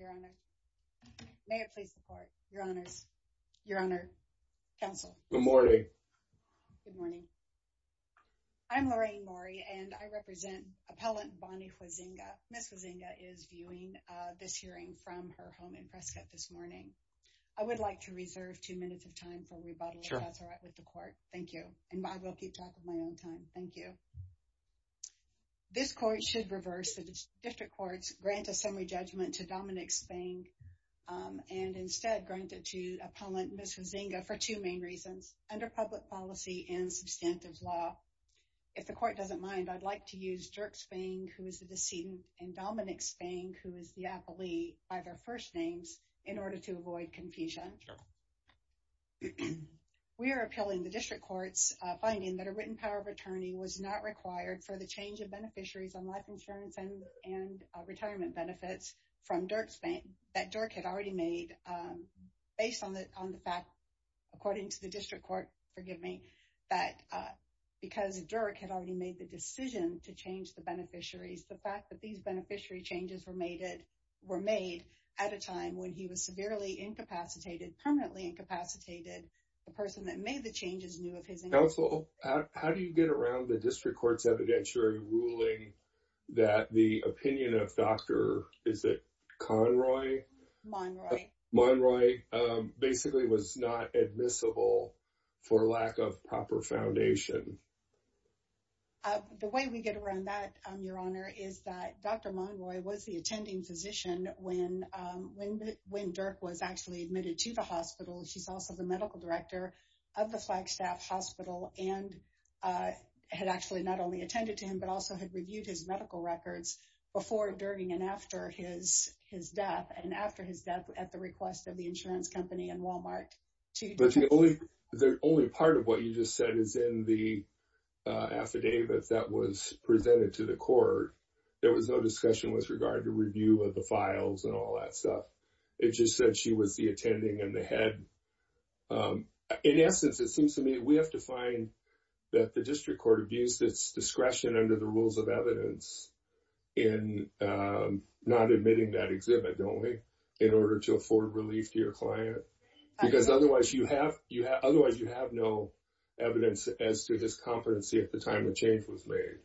Your Honor. May it please the court. Your Honors. Your Honor. Counsel. Good morning. Good morning. I'm Lorraine Maury and I represent Appellant Bonnie Huizenga. Ms. Huizenga is viewing this hearing from her home in Prescott this morning. I would like to reserve two minutes of time for rebuttal if that's all right with the court. Thank you. And I will keep track of my own time. Thank you. This court should reverse the district courts grant a Dominik Spang and instead grant it to Appellant Ms. Huizenga for two main reasons. Under public policy and substantive law. If the court doesn't mind, I'd like to use Dirk Spang who is the decedent and Dominik Spang who is the appellee by their first names in order to avoid confusion. We are appealing the district courts finding that a written power of attorney was not required for the change of beneficiaries on life insurance and retirement benefits from Dirk Spang that Dirk had already made based on the fact, according to the district court, forgive me, that because Dirk had already made the decision to change the beneficiaries, the fact that these beneficiary changes were made at a time when he was severely incapacitated, permanently incapacitated, the person that made the changes knew of his... Counsel, how do you get around the district court's evidentiary ruling that the opinion of Dr., is it Conroy? Monroy. Monroy basically was not admissible for lack of proper foundation. The way we get around that, your honor, is that Dr. Monroy was the attending physician when Dirk was actually admitted to the hospital. She's also the medical but also had reviewed his medical records before, during, and after his death and after his death at the request of the insurance company and Walmart. But the only part of what you just said is in the affidavit that was presented to the court, there was no discussion with regard to review of the files and all that stuff. It just said she was the attending and the head. In essence, it seems to me we have to find that the district court abused its discretion under the rules of evidence in not admitting that exhibit, don't we? In order to afford relief to your client. Because otherwise you have no evidence as to his competency at the time the change was made.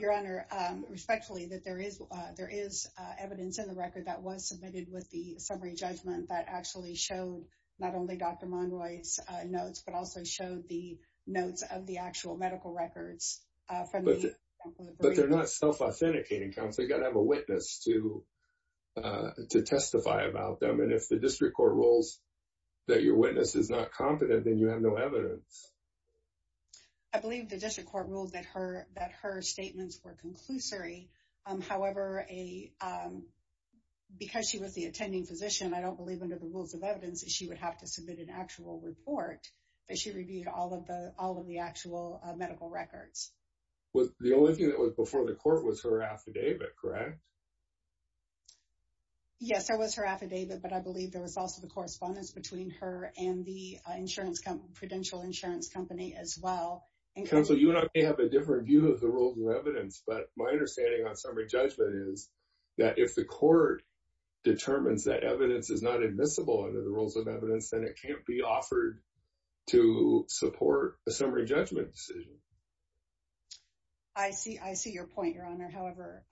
Your honor, respectfully, that there is evidence in the record that was submitted with the notes but also showed the notes of the actual medical records. But they're not self-authenticating, counsel. You got to have a witness to testify about them. And if the district court rules that your witness is not competent, then you have no evidence. I believe the district court ruled that her statements were conclusory. However, because she was the attending physician, I don't believe under the rules of evidence that she would have to submit an actual report that she reviewed all of the actual medical records. The only thing that was before the court was her affidavit, correct? Yes, that was her affidavit. But I believe there was also the correspondence between her and the insurance company, prudential insurance company as well. Counsel, you and I may have a different view of the rules of evidence. But my understanding on summary judgment is that if the court determines that evidence is not admissible under the rules of evidence, then it can't be offered to support a summary judgment decision. I see your point, Your Honor. However,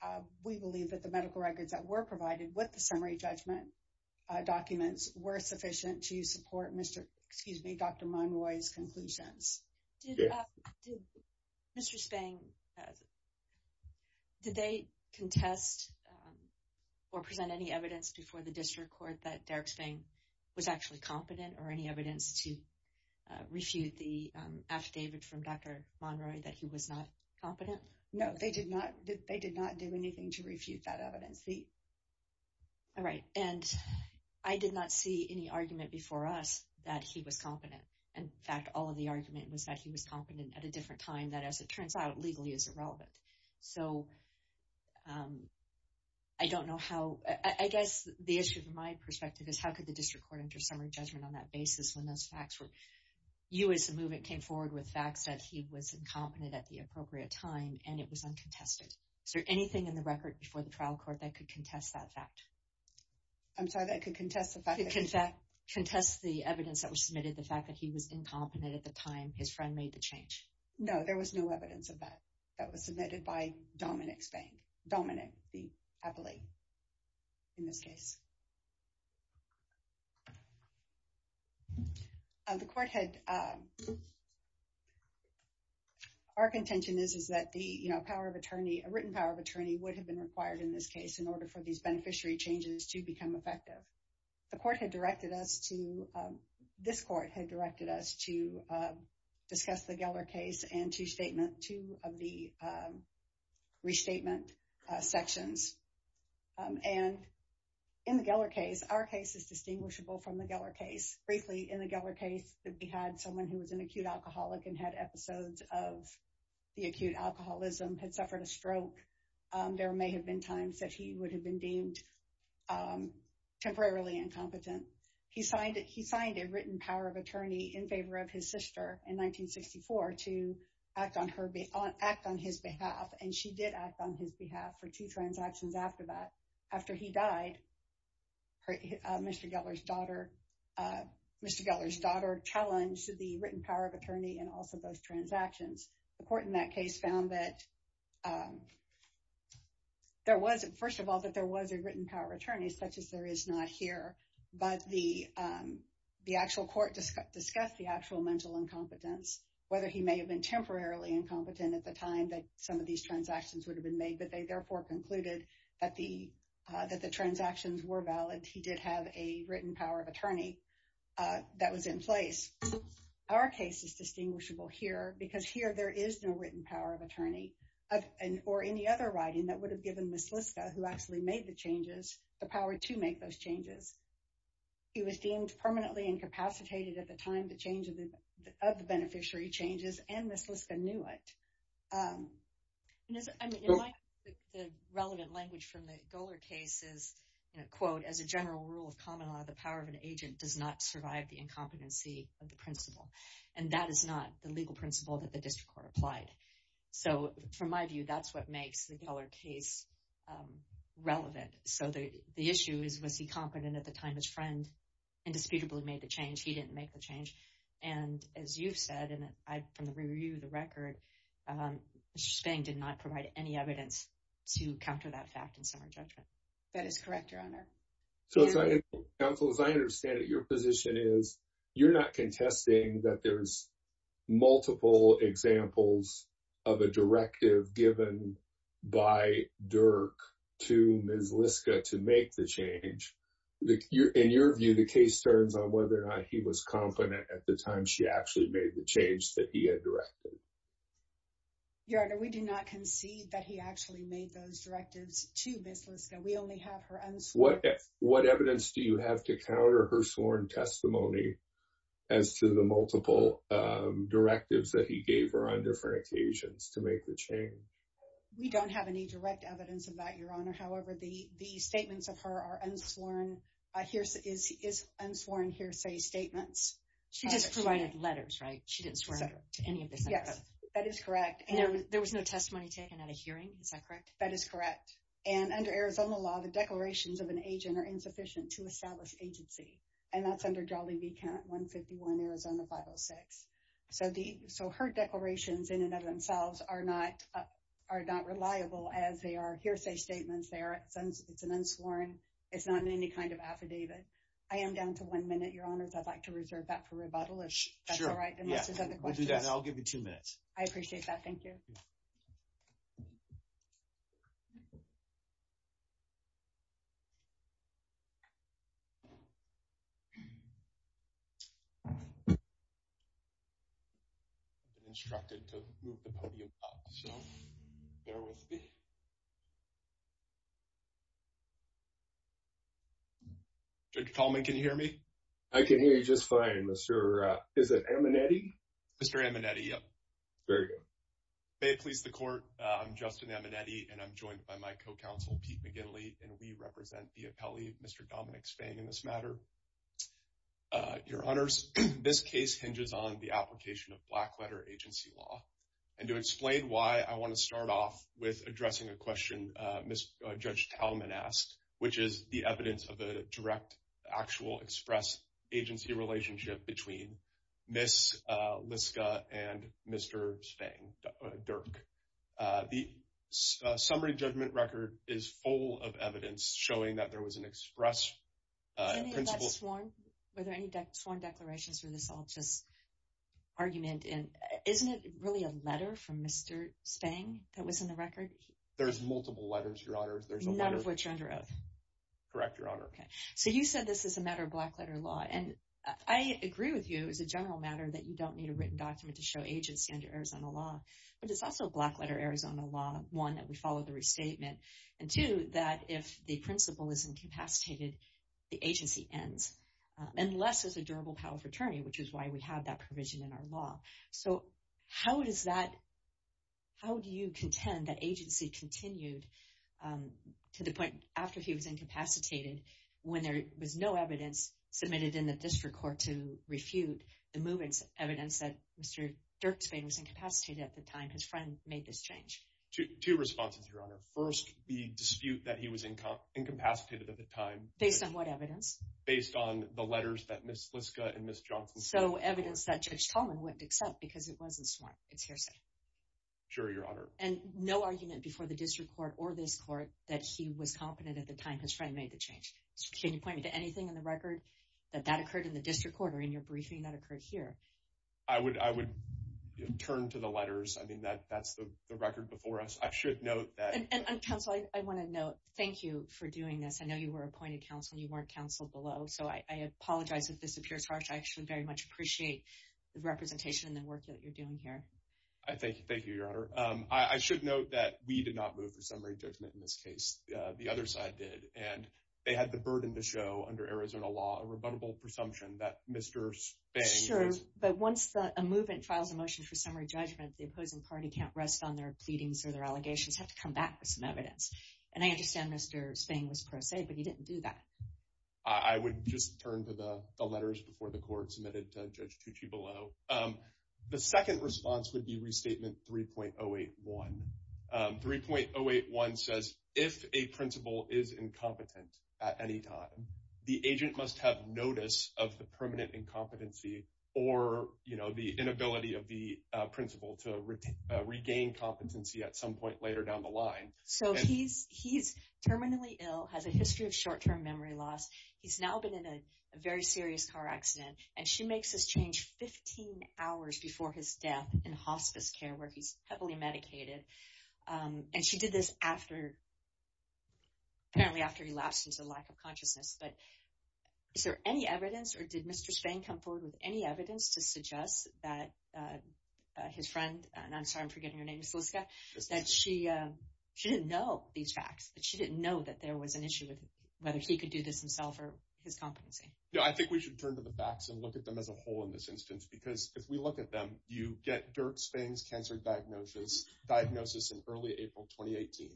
we believe that the medical records that were provided with the summary judgment documents were sufficient to support Dr. Monroy's conclusions. Mr. Spang, did they contest or present any evidence before the district court that Derek was actually competent or any evidence to refute the affidavit from Dr. Monroy that he was not competent? No, they did not do anything to refute that evidence. All right. And I did not see any argument before us that he was competent. In fact, all of the argument was that he was competent at a different time that, as it turns out, legally is irrelevant. So I don't know how, I guess the issue from my perspective is how the district court entered summary judgment on that basis when those facts were, you as a movement came forward with facts that he was incompetent at the appropriate time, and it was uncontested. Is there anything in the record before the trial court that could contest that fact? I'm sorry, that could contest the fact? Contest the evidence that was submitted, the fact that he was incompetent at the time his friend made the change. No, there was no evidence of that. That was submitted by Dominic Spang. Dominic, the court had, our contention is, is that the power of attorney, a written power of attorney would have been required in this case in order for these beneficiary changes to become effective. The court had directed us to, this court had directed us to discuss the Geller case and to of the restatement sections. And in the Geller case, our case is distinguishable from the Geller case. Briefly, in the Geller case, we had someone who was an acute alcoholic and had episodes of the acute alcoholism, had suffered a stroke. There may have been times that he would have been deemed temporarily incompetent. He signed a written power of attorney in favor of his sister in 1964 to act on her, act on his behalf. And she did act on his behalf for two transactions after that. After he died, Mr. Geller's daughter challenged the written power of attorney and also those transactions. The court in that case found that there was, first of all, that there was a written power of attorney, such as there is not here. But the actual court discussed the actual mental incompetence, whether he may have been temporarily incompetent at the time that some of these transactions would have been made, but they therefore concluded that the transactions were valid. He did have a written power of attorney that was in place. Our case is distinguishable here because here there is no written power of attorney or any other writing that would have given Ms. Liska, who actually made the changes, the power to make those changes. He was deemed permanently incapacitated at the time of the beneficiary changes and Ms. Liska knew it. The relevant language from the Geller case is, quote, as a general rule of common law, the power of an agent does not survive the incompetency of the principal. And that is not the legal principle that the district court applied. So from my view, that's what makes the Geller case relevant. So the issue is, was he competent at the time as friend indisputably made the change? He didn't make the change. And as you've said, and I, from the review of the record, Mr. Spang did not provide any evidence to counter that fact in summary judgment. That is correct, your honor. So as I understand it, your position is you're not contesting that there's multiple examples of a directive given by Dirk to Ms. Liska to make the change. In your view, the case turns on whether or not he was competent at the time she actually made the change that he had directed. Your honor, we do not concede that he actually made those directives to Ms. Liska. We only have her unsworn. What evidence do you have to counter her sworn testimony as to the multiple directives that he gave her on different occasions to make the change? We don't have any direct evidence of that, your honor. However, the statements of her are unsworn hearsay statements. She just provided letters, right? She didn't swear to any of this. Yes, that is correct. And there was no testimony taken at a hearing. Is that correct? That is correct. And under Arizona law, the declarations of an agent are insufficient to establish agency. And that's under Jolly B Count 151, Arizona 506. So the, so her declarations in and of themselves are not, are not reliable as they are hearsay statements. It's an unsworn. It's not in any kind of affidavit. I am down to one minute, your honors. I'd like to reserve that for rebuttal if that's all right. Yeah, we'll do that. I'll give you two minutes. I appreciate that. Thank you. Judge Tallman, can you hear me? I can hear you just fine, Mr., is it Amenetti? Mr. Amenetti, yep. Very good. May it please the court. I'm Justin Amenetti, and I'm joined by my co-counsel, Pete McGinley, and we represent the appellee, Mr. Dominic Spang, in this matter. Your honors, this case hinges on the application of black letter agency law. And to explain why, I want to start off with addressing a question Judge Tallman asked, which is the evidence of a direct, actual express agency relationship between Ms. Liska and Mr. Spang, Dirk. The summary judgment record is full of evidence showing that there was an express principle. Any of that sworn, were there any sworn declarations or this all just argument in, isn't it really a letter from Mr. Spang that was in the record? There's multiple letters, your honors. None of which are under oath. Correct, your honor. Okay. So you said this is a matter of black letter law, and I agree with you, as a general matter, that you don't need a written document to show agency under Arizona law. But it's also a black letter Arizona law, one, that we follow the restatement, and two, that if the principle is incapacitated, the agency ends, unless there's a durable power of attorney, which is why we have that provision in our law. So how does that, how do you contend that agency continued to the point after he was incapacitated, when there was no evidence submitted in the district court to refute the movement's evidence that Mr. Dirk Spang was incapacitated at the time his friend made this change? Two responses, your honor. First, the dispute that he was incapacitated at the time. Based on what evidence? Based on the letters that Ms. Liska and Ms. Johnson submitted. So evidence that Judge Tallman wouldn't accept, because it wasn't sworn, it's hearsay. Sure, your honor. And no argument before the district court or this court that he was competent at the time his friend made the change. Can you point me to anything in the record that that occurred in the district court, or in your briefing that occurred here? I would turn to the letters. I mean, that's the record before us. I should note that- And counsel, I want to note, thank you for doing this. I know you were appointed counsel, you weren't counseled below. So I apologize if this appears harsh. I actually very much appreciate the representation and the work that you're doing here. Thank you, your honor. I should note that we did not move for summary judgment in this case. The other side did. And they had the burden to show, under Arizona law, a rebuttable presumption that Mr. Spang- Sure, but once a movement files a motion for summary judgment, the opposing party can't rest on their pleadings or their allegations, have to come back with some evidence. And I understand Mr. Spang was pro se, but he didn't do that. I would just turn to the letters before the court submitted to Judge Tucci below. The second response would be restatement 3.081. 3.081 says, if a principal is incompetent at any time, the agent must have notice of the permanent incompetency or the inability of the principal to So he's terminally ill, has a history of short term memory loss. He's now been in a very serious car accident. And she makes this change 15 hours before his death in hospice care where he's heavily medicated. And she did this after, apparently after he lapsed into lack of consciousness. But is there any evidence or did Mr. Spang come forward with any evidence to suggest that his friend, and I'm sorry, I'm forgetting your name, Miss Liska, that she didn't know these facts, that she didn't know that there was an issue with whether he could do this himself or his competency? Yeah, I think we should turn to the facts and look at them as a whole in this instance. Because if we look at them, you get Dirk Spang's cancer diagnosis in early April 2018.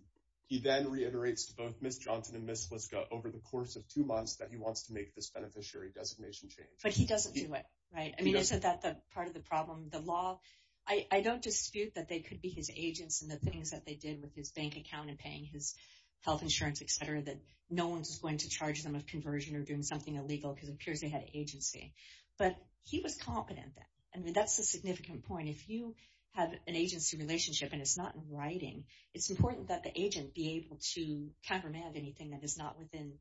He then reiterates to both Miss Johnson and Miss Liska over the course of two months that he wants to make this beneficiary designation change. But he doesn't do it, right? I mean, isn't that part of the problem? The law, I don't dispute that they could be his agents and the things that they did with his bank account and paying his health insurance, etc., that no one's going to charge them of conversion or doing something illegal because it appears they had agency. But he was competent then. And that's the significant point. If you have an agency relationship and it's not in writing, it's important that the agent be able to countermand anything that is not within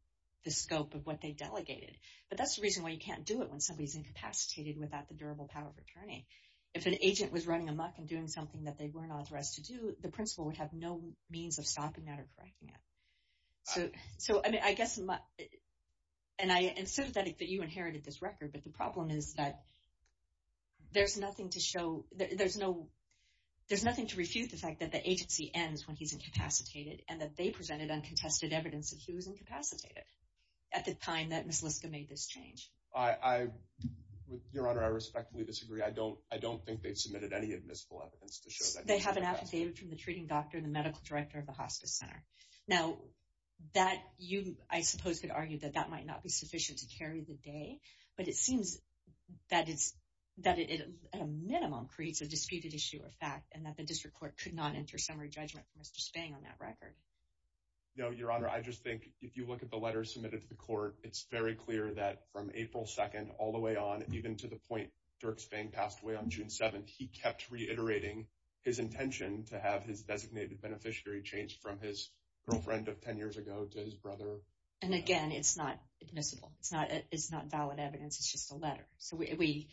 the scope of what they delegated. But that's the reason why you can't do it when somebody's incapacitated without the durable power of attorney. If an agent was running amok and doing something that they weren't authorized to do, the principal would have no means of stopping that or correcting it. So, I mean, I guess, and I am sympathetic that you inherited this record, but the problem is that there's nothing to show, there's no, there's nothing to refute the fact that the agency ends when he's incapacitated and that they presented uncontested evidence that he was incapacitated at the time that Ms. Liska made this change. Your Honor, I respectfully disagree. I don't think they've submitted any admissible evidence to show that. They have an affidavit from the treating doctor and the medical director of the hospice center. Now, that you, I suppose, could argue that that might not be sufficient to carry the day, but it seems that it's, that it at a minimum creates a disputed issue or fact and that the district court could not enter summary judgment for Mr. Spang on that record. No, I just think if you look at the letter submitted to the court, it's very clear that from April 2nd all the way on, even to the point Dirk Spang passed away on June 7th, he kept reiterating his intention to have his designated beneficiary changed from his girlfriend of 10 years ago to his brother. And again, it's not admissible. It's not, it's not valid evidence. It's just a letter. So we,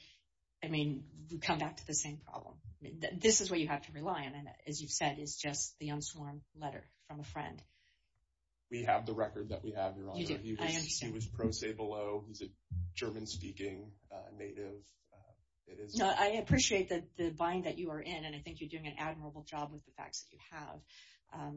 I mean, we come back to the same problem. This is what you have to rely on. And as you've just said, it's just the unsworn letter from a friend. We have the record that we have, Your Honor. He was pro se below. He's a German speaking native. It is. No, I appreciate that the bind that you are in, and I think you're doing an admirable job with the facts that you have.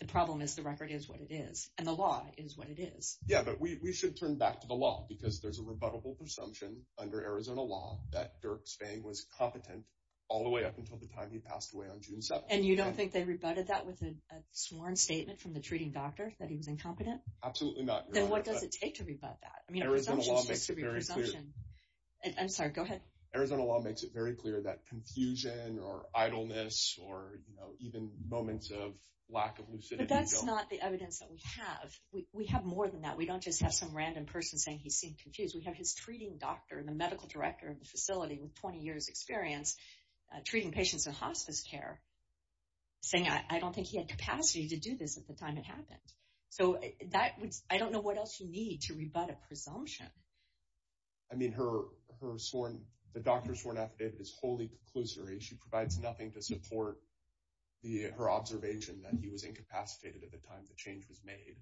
The problem is the record is what it is and the law is what it is. Yeah, but we should turn back to the law because there's a rebuttable presumption under Arizona law that Dirk Spang was competent all the way up until the time he passed away on June 7th. And you don't think they rebutted that with a sworn statement from the treating doctor that he was incompetent? Absolutely not. Then what does it take to rebut that? I mean, Arizona law makes it very clear. I'm sorry, go ahead. Arizona law makes it very clear that confusion or idleness or, you know, even moments of lack of lucidity. But that's not the evidence that we have. We have more than that. We don't just have some random person saying he seemed confused. We have his treating doctor and the medical director of the facility with 20 years experience treating patients in hospice care saying I don't think he had capacity to do this at the time it happened. So that would, I don't know what else you need to rebut a presumption. I mean, her sworn, the doctor's sworn affidavit is wholly conclusory. She provides nothing to support her observation that he was incapacitated at the time the change was made.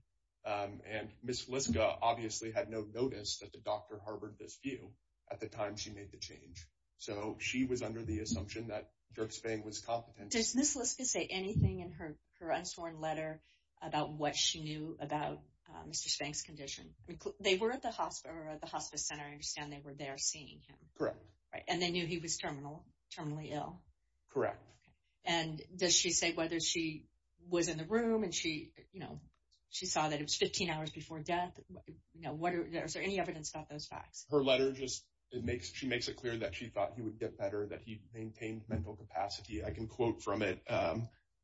And Ms. Felisca obviously had no notice that the doctor harbored this view at the time she made the change. So she was under the assumption that Dirk Spang was competent. Does Ms. Felisca say anything in her unsworn letter about what she knew about Mr. Spang's condition? I mean, they were at the hospice center. I understand they were there seeing him. Correct. Right. And they knew he was terminally ill. Correct. And does she say whether she was in the room and she, you know, she saw that it was 15 hours before death? No. What are, is there any evidence about those facts? Her letter just, it makes, she makes it clear that she thought he would get better, that he maintained mental capacity. I can quote from it.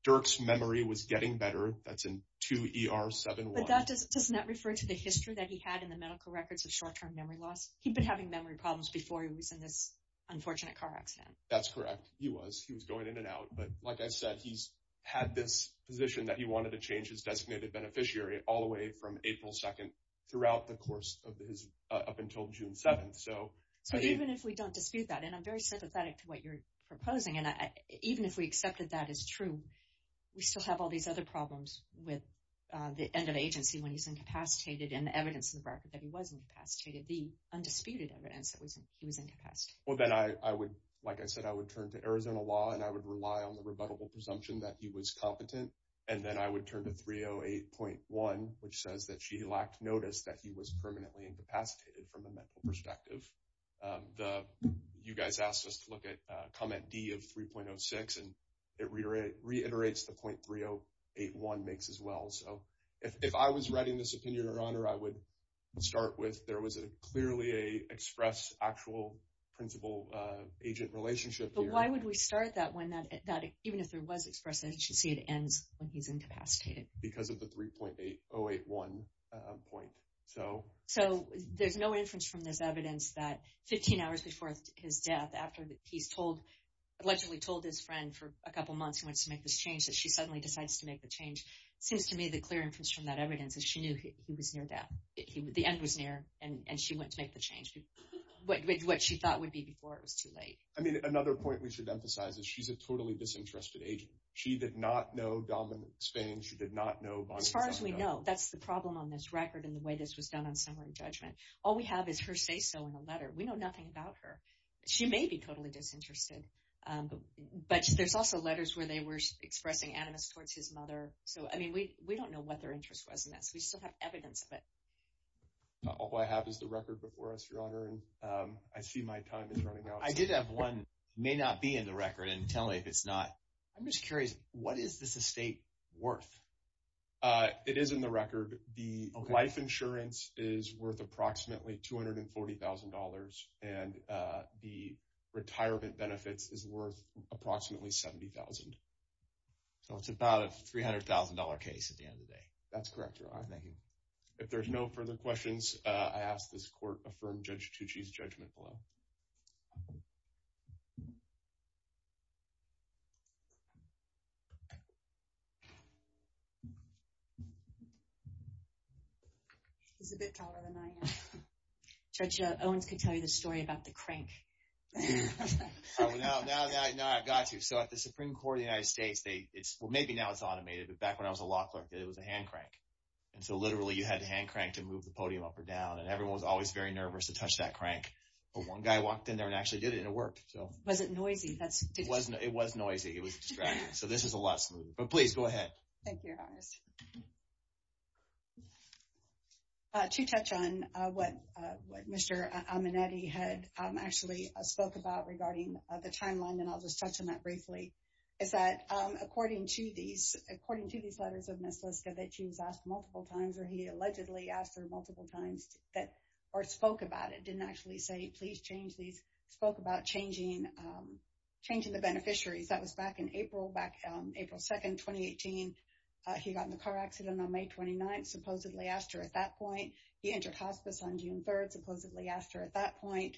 Dirk's memory was getting better. That's in 2ER71. But that does not refer to the history that he had in the medical records of short-term memory loss. He'd been having memory problems before he was in this unfortunate car accident. That's correct. He was, he was going in and out. But like I said, he's had this position that he wanted to change his designated beneficiary all the way from April 2nd throughout the course of his, up until June 7th. So even if we don't dispute that, and I'm very sympathetic to what you're proposing, and even if we accepted that as true, we still have all these other problems with the end of agency when he's incapacitated and the evidence in the record that he was incapacitated, the undisputed evidence that he was incapacitated. Well, then I would, like I said, I would turn to Arizona law and I would rely on the rebuttable presumption that he was competent. And then I would turn to 308.1, which says that she lacked notice that he was permanently incapacitated from a mental perspective. The, you guys asked us to look at comment D of 3.06 and it reiterates the point 308.1 makes as well. So if I was writing this opinion or honor, I would start with, there was a clearly a express actual principal agent relationship here. But why would we start that when that, that even if there was expressed agency, it ends when he's incapacitated. Because of the 3.8081 point. So, so there's no inference from this evidence that 15 hours before his death, after he's told, allegedly told his friend for a couple months, he wants to make this change, that she suddenly decides to make the change. It seems to me the clear inference from that evidence is she knew he was near death. He would, the end was near and she went to make the change with what she thought would be before it was too late. I mean, another point we should emphasize is she's a totally disinterested agent. She did not know Dominic Spain. She did not know as far as we know, that's the problem on this record in the way this was done on summary judgment. All we have is her say so in a letter. We know nothing about her. She may be totally disinterested. Um, but there's also letters where they were expressing animus towards his mother. So, I mean, we, we don't know what their interest was in this. We still have evidence of it. All I have is the record before us, your honor. And, um, I see my time is running out. I did have one may not be in the record and tell me if it's not, I'm just curious, what is this estate worth? Uh, it is in the record. The life insurance is worth approximately $240,000. And, uh, the retirement benefits is worth approximately 70,000. So it's about a $300,000 case at the end of the day. That's correct, your honor. Thank you. If there's no further questions, uh, I ask this court affirm judge Tucci's judgment below. Okay. He's a bit taller than I am. Judge, uh, Owens could tell you the story about the crank. Oh, no, no, no, I've got you. So at the Supreme Court of the United States, they, it's, well, maybe now it's automated, but back when I was a law clerk, it was a hand crank. And so literally you had to hand crank to move the podium up or down. And everyone was always very nervous to touch that crank. But one guy walked in there and actually did it and it worked. Was it noisy? It was noisy. It was distracting. So this is a lot smoother, but please go ahead. Thank you, your honors. Uh, to touch on, uh, what, uh, what Mr. Amenetti had, um, actually spoke about regarding the timeline. And I'll just touch on that briefly is that, um, according to these, according to these letters of Ms. Liska that she was asked multiple times, or he allegedly asked her multiple times that, or spoke about it, didn't actually say, please change these, spoke about changing, um, changing the beneficiaries. That was back in April, back, um, April 2nd, 2018. He got in a car accident on May 29th, supposedly asked her at that point. He entered hospice on June 3rd, supposedly asked her at that point.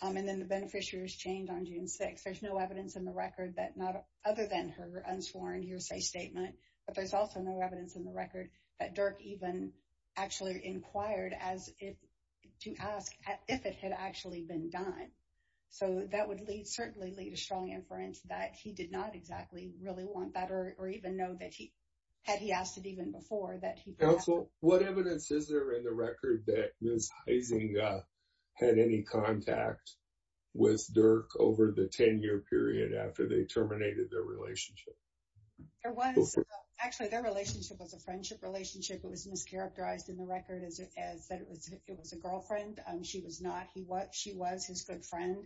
Um, and then the beneficiaries changed on June 6th. There's no evidence in the record that not other than her unsworn hearsay statement, but there's also no evidence in the record that Dirk even actually inquired as if to ask if it had actually been done. So that would lead, certainly lead a strong inference that he did not exactly really want that, or, or even know that he had, he asked it even before that. Counsel, what evidence is there in the record that Ms. Huizing, uh, had any contact with Dirk over the 10-year period after they terminated their relationship? There was, actually, their relationship was a friendship relationship. It was mischaracterized in the record as, as that it was, it was a girlfriend. Um, she was not, he was, she was his good friend.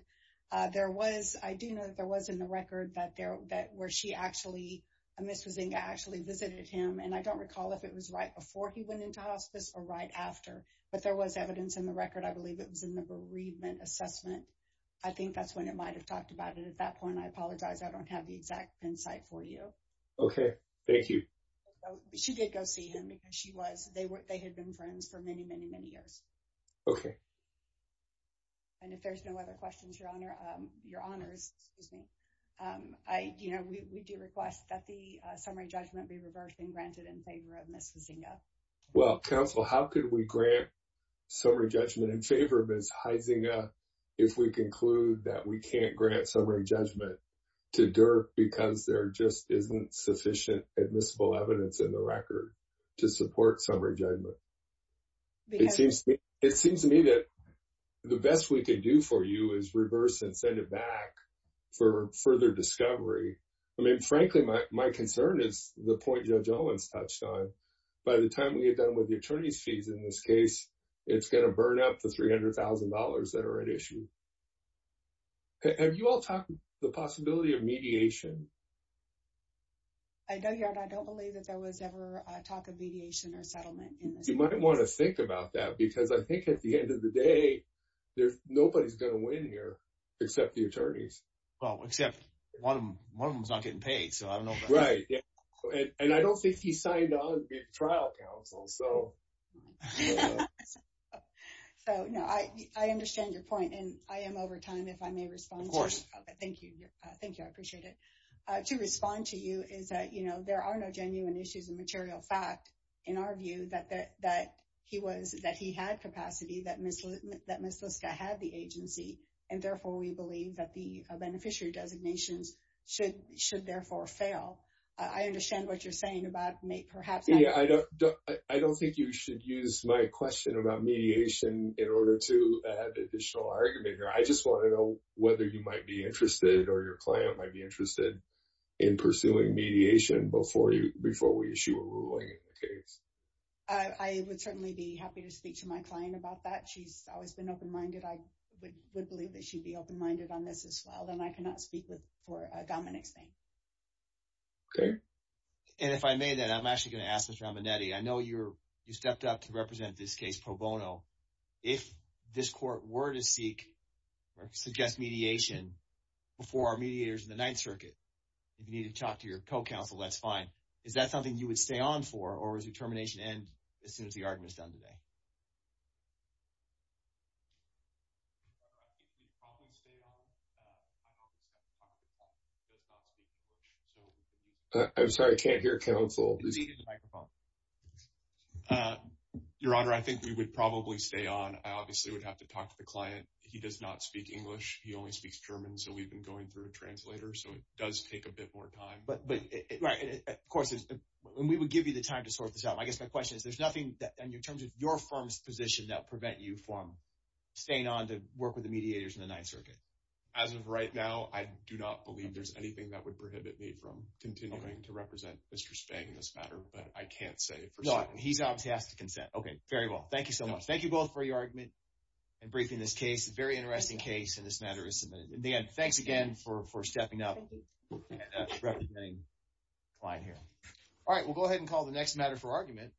Uh, there was, I do know that there was in the record that there, that where she actually, Ms. Huizing actually visited him. And I don't recall if it was right before he went into hospice or right after, but there was evidence in the record. I believe it at that point. I apologize. I don't have the exact pin site for you. Okay. Thank you. She did go see him because she was, they were, they had been friends for many, many, many years. Okay. And if there's no other questions, your honor, um, your honors, excuse me. Um, I, you know, we, we do request that the, uh, summary judgment be reversed and granted in favor of Ms. Huizinga. Well, counsel, how could we grant summary judgment in favor of Ms. Huizinga if we conclude that we can't grant summary judgment to DERP because there just isn't sufficient admissible evidence in the record to support summary judgment? It seems to me that the best we can do for you is reverse and send it back for further discovery. I mean, frankly, my concern is the point Judge Owens touched on. By the time we get done with the attorney's fees in this case, it's going to have you all talk the possibility of mediation. I know, your honor, I don't believe that there was ever a talk of mediation or settlement in this. You might want to think about that because I think at the end of the day, there's nobody's going to win here except the attorneys. Well, except one of them, one of them's not getting paid. So I don't know. Right. And I don't think he signed on to be a trial counsel. So. So, no, I understand your point. And I am over time if I may respond. Of course. Okay. Thank you. Thank you. I appreciate it. To respond to you is that, you know, there are no genuine issues and material fact in our view that he was, that he had capacity, that Ms. Liska had the agency, and therefore, we believe that the beneficiary designations should therefore fail. I understand what you're saying about perhaps. Yeah, I don't think you should, my question about mediation in order to add additional argument here. I just want to know whether you might be interested or your client might be interested in pursuing mediation before you, before we issue a ruling in the case. I would certainly be happy to speak to my client about that. She's always been open-minded. I would believe that she'd be open-minded on this as well. Then I cannot speak with, for Dominic's name. Okay. And if I may then, I'm actually going to ask Ms. Ramonetti. I know you're, stepped up to represent this case pro bono. If this court were to seek or suggest mediation before our mediators in the Ninth Circuit, if you need to talk to your co-counsel, that's fine. Is that something you would stay on for or is your termination end as soon as the argument is done today? I think we'd probably stay on. I'm sorry, I can't hear counsel. Your Honor, I think we would probably stay on. I obviously would have to talk to the client. He does not speak English. He only speaks German. So we've been going through a translator. So it does take a bit more time. But of course, and we would give you the time to sort this out. I guess my question is, there's nothing in terms of your firm's position that prevent you from staying on to work with the mediators in the Ninth Circuit? As of right now, I do not believe there's anything that would prohibit me from continuing to represent Mr. Spang in this case. He's obviously asked to consent. Okay, very well. Thank you so much. Thank you both for your argument and briefing this case. It's a very interesting case and this matter is submitted. In the end, thanks again for stepping up and representing the client here. All right, we'll go ahead and call the next matter for argument.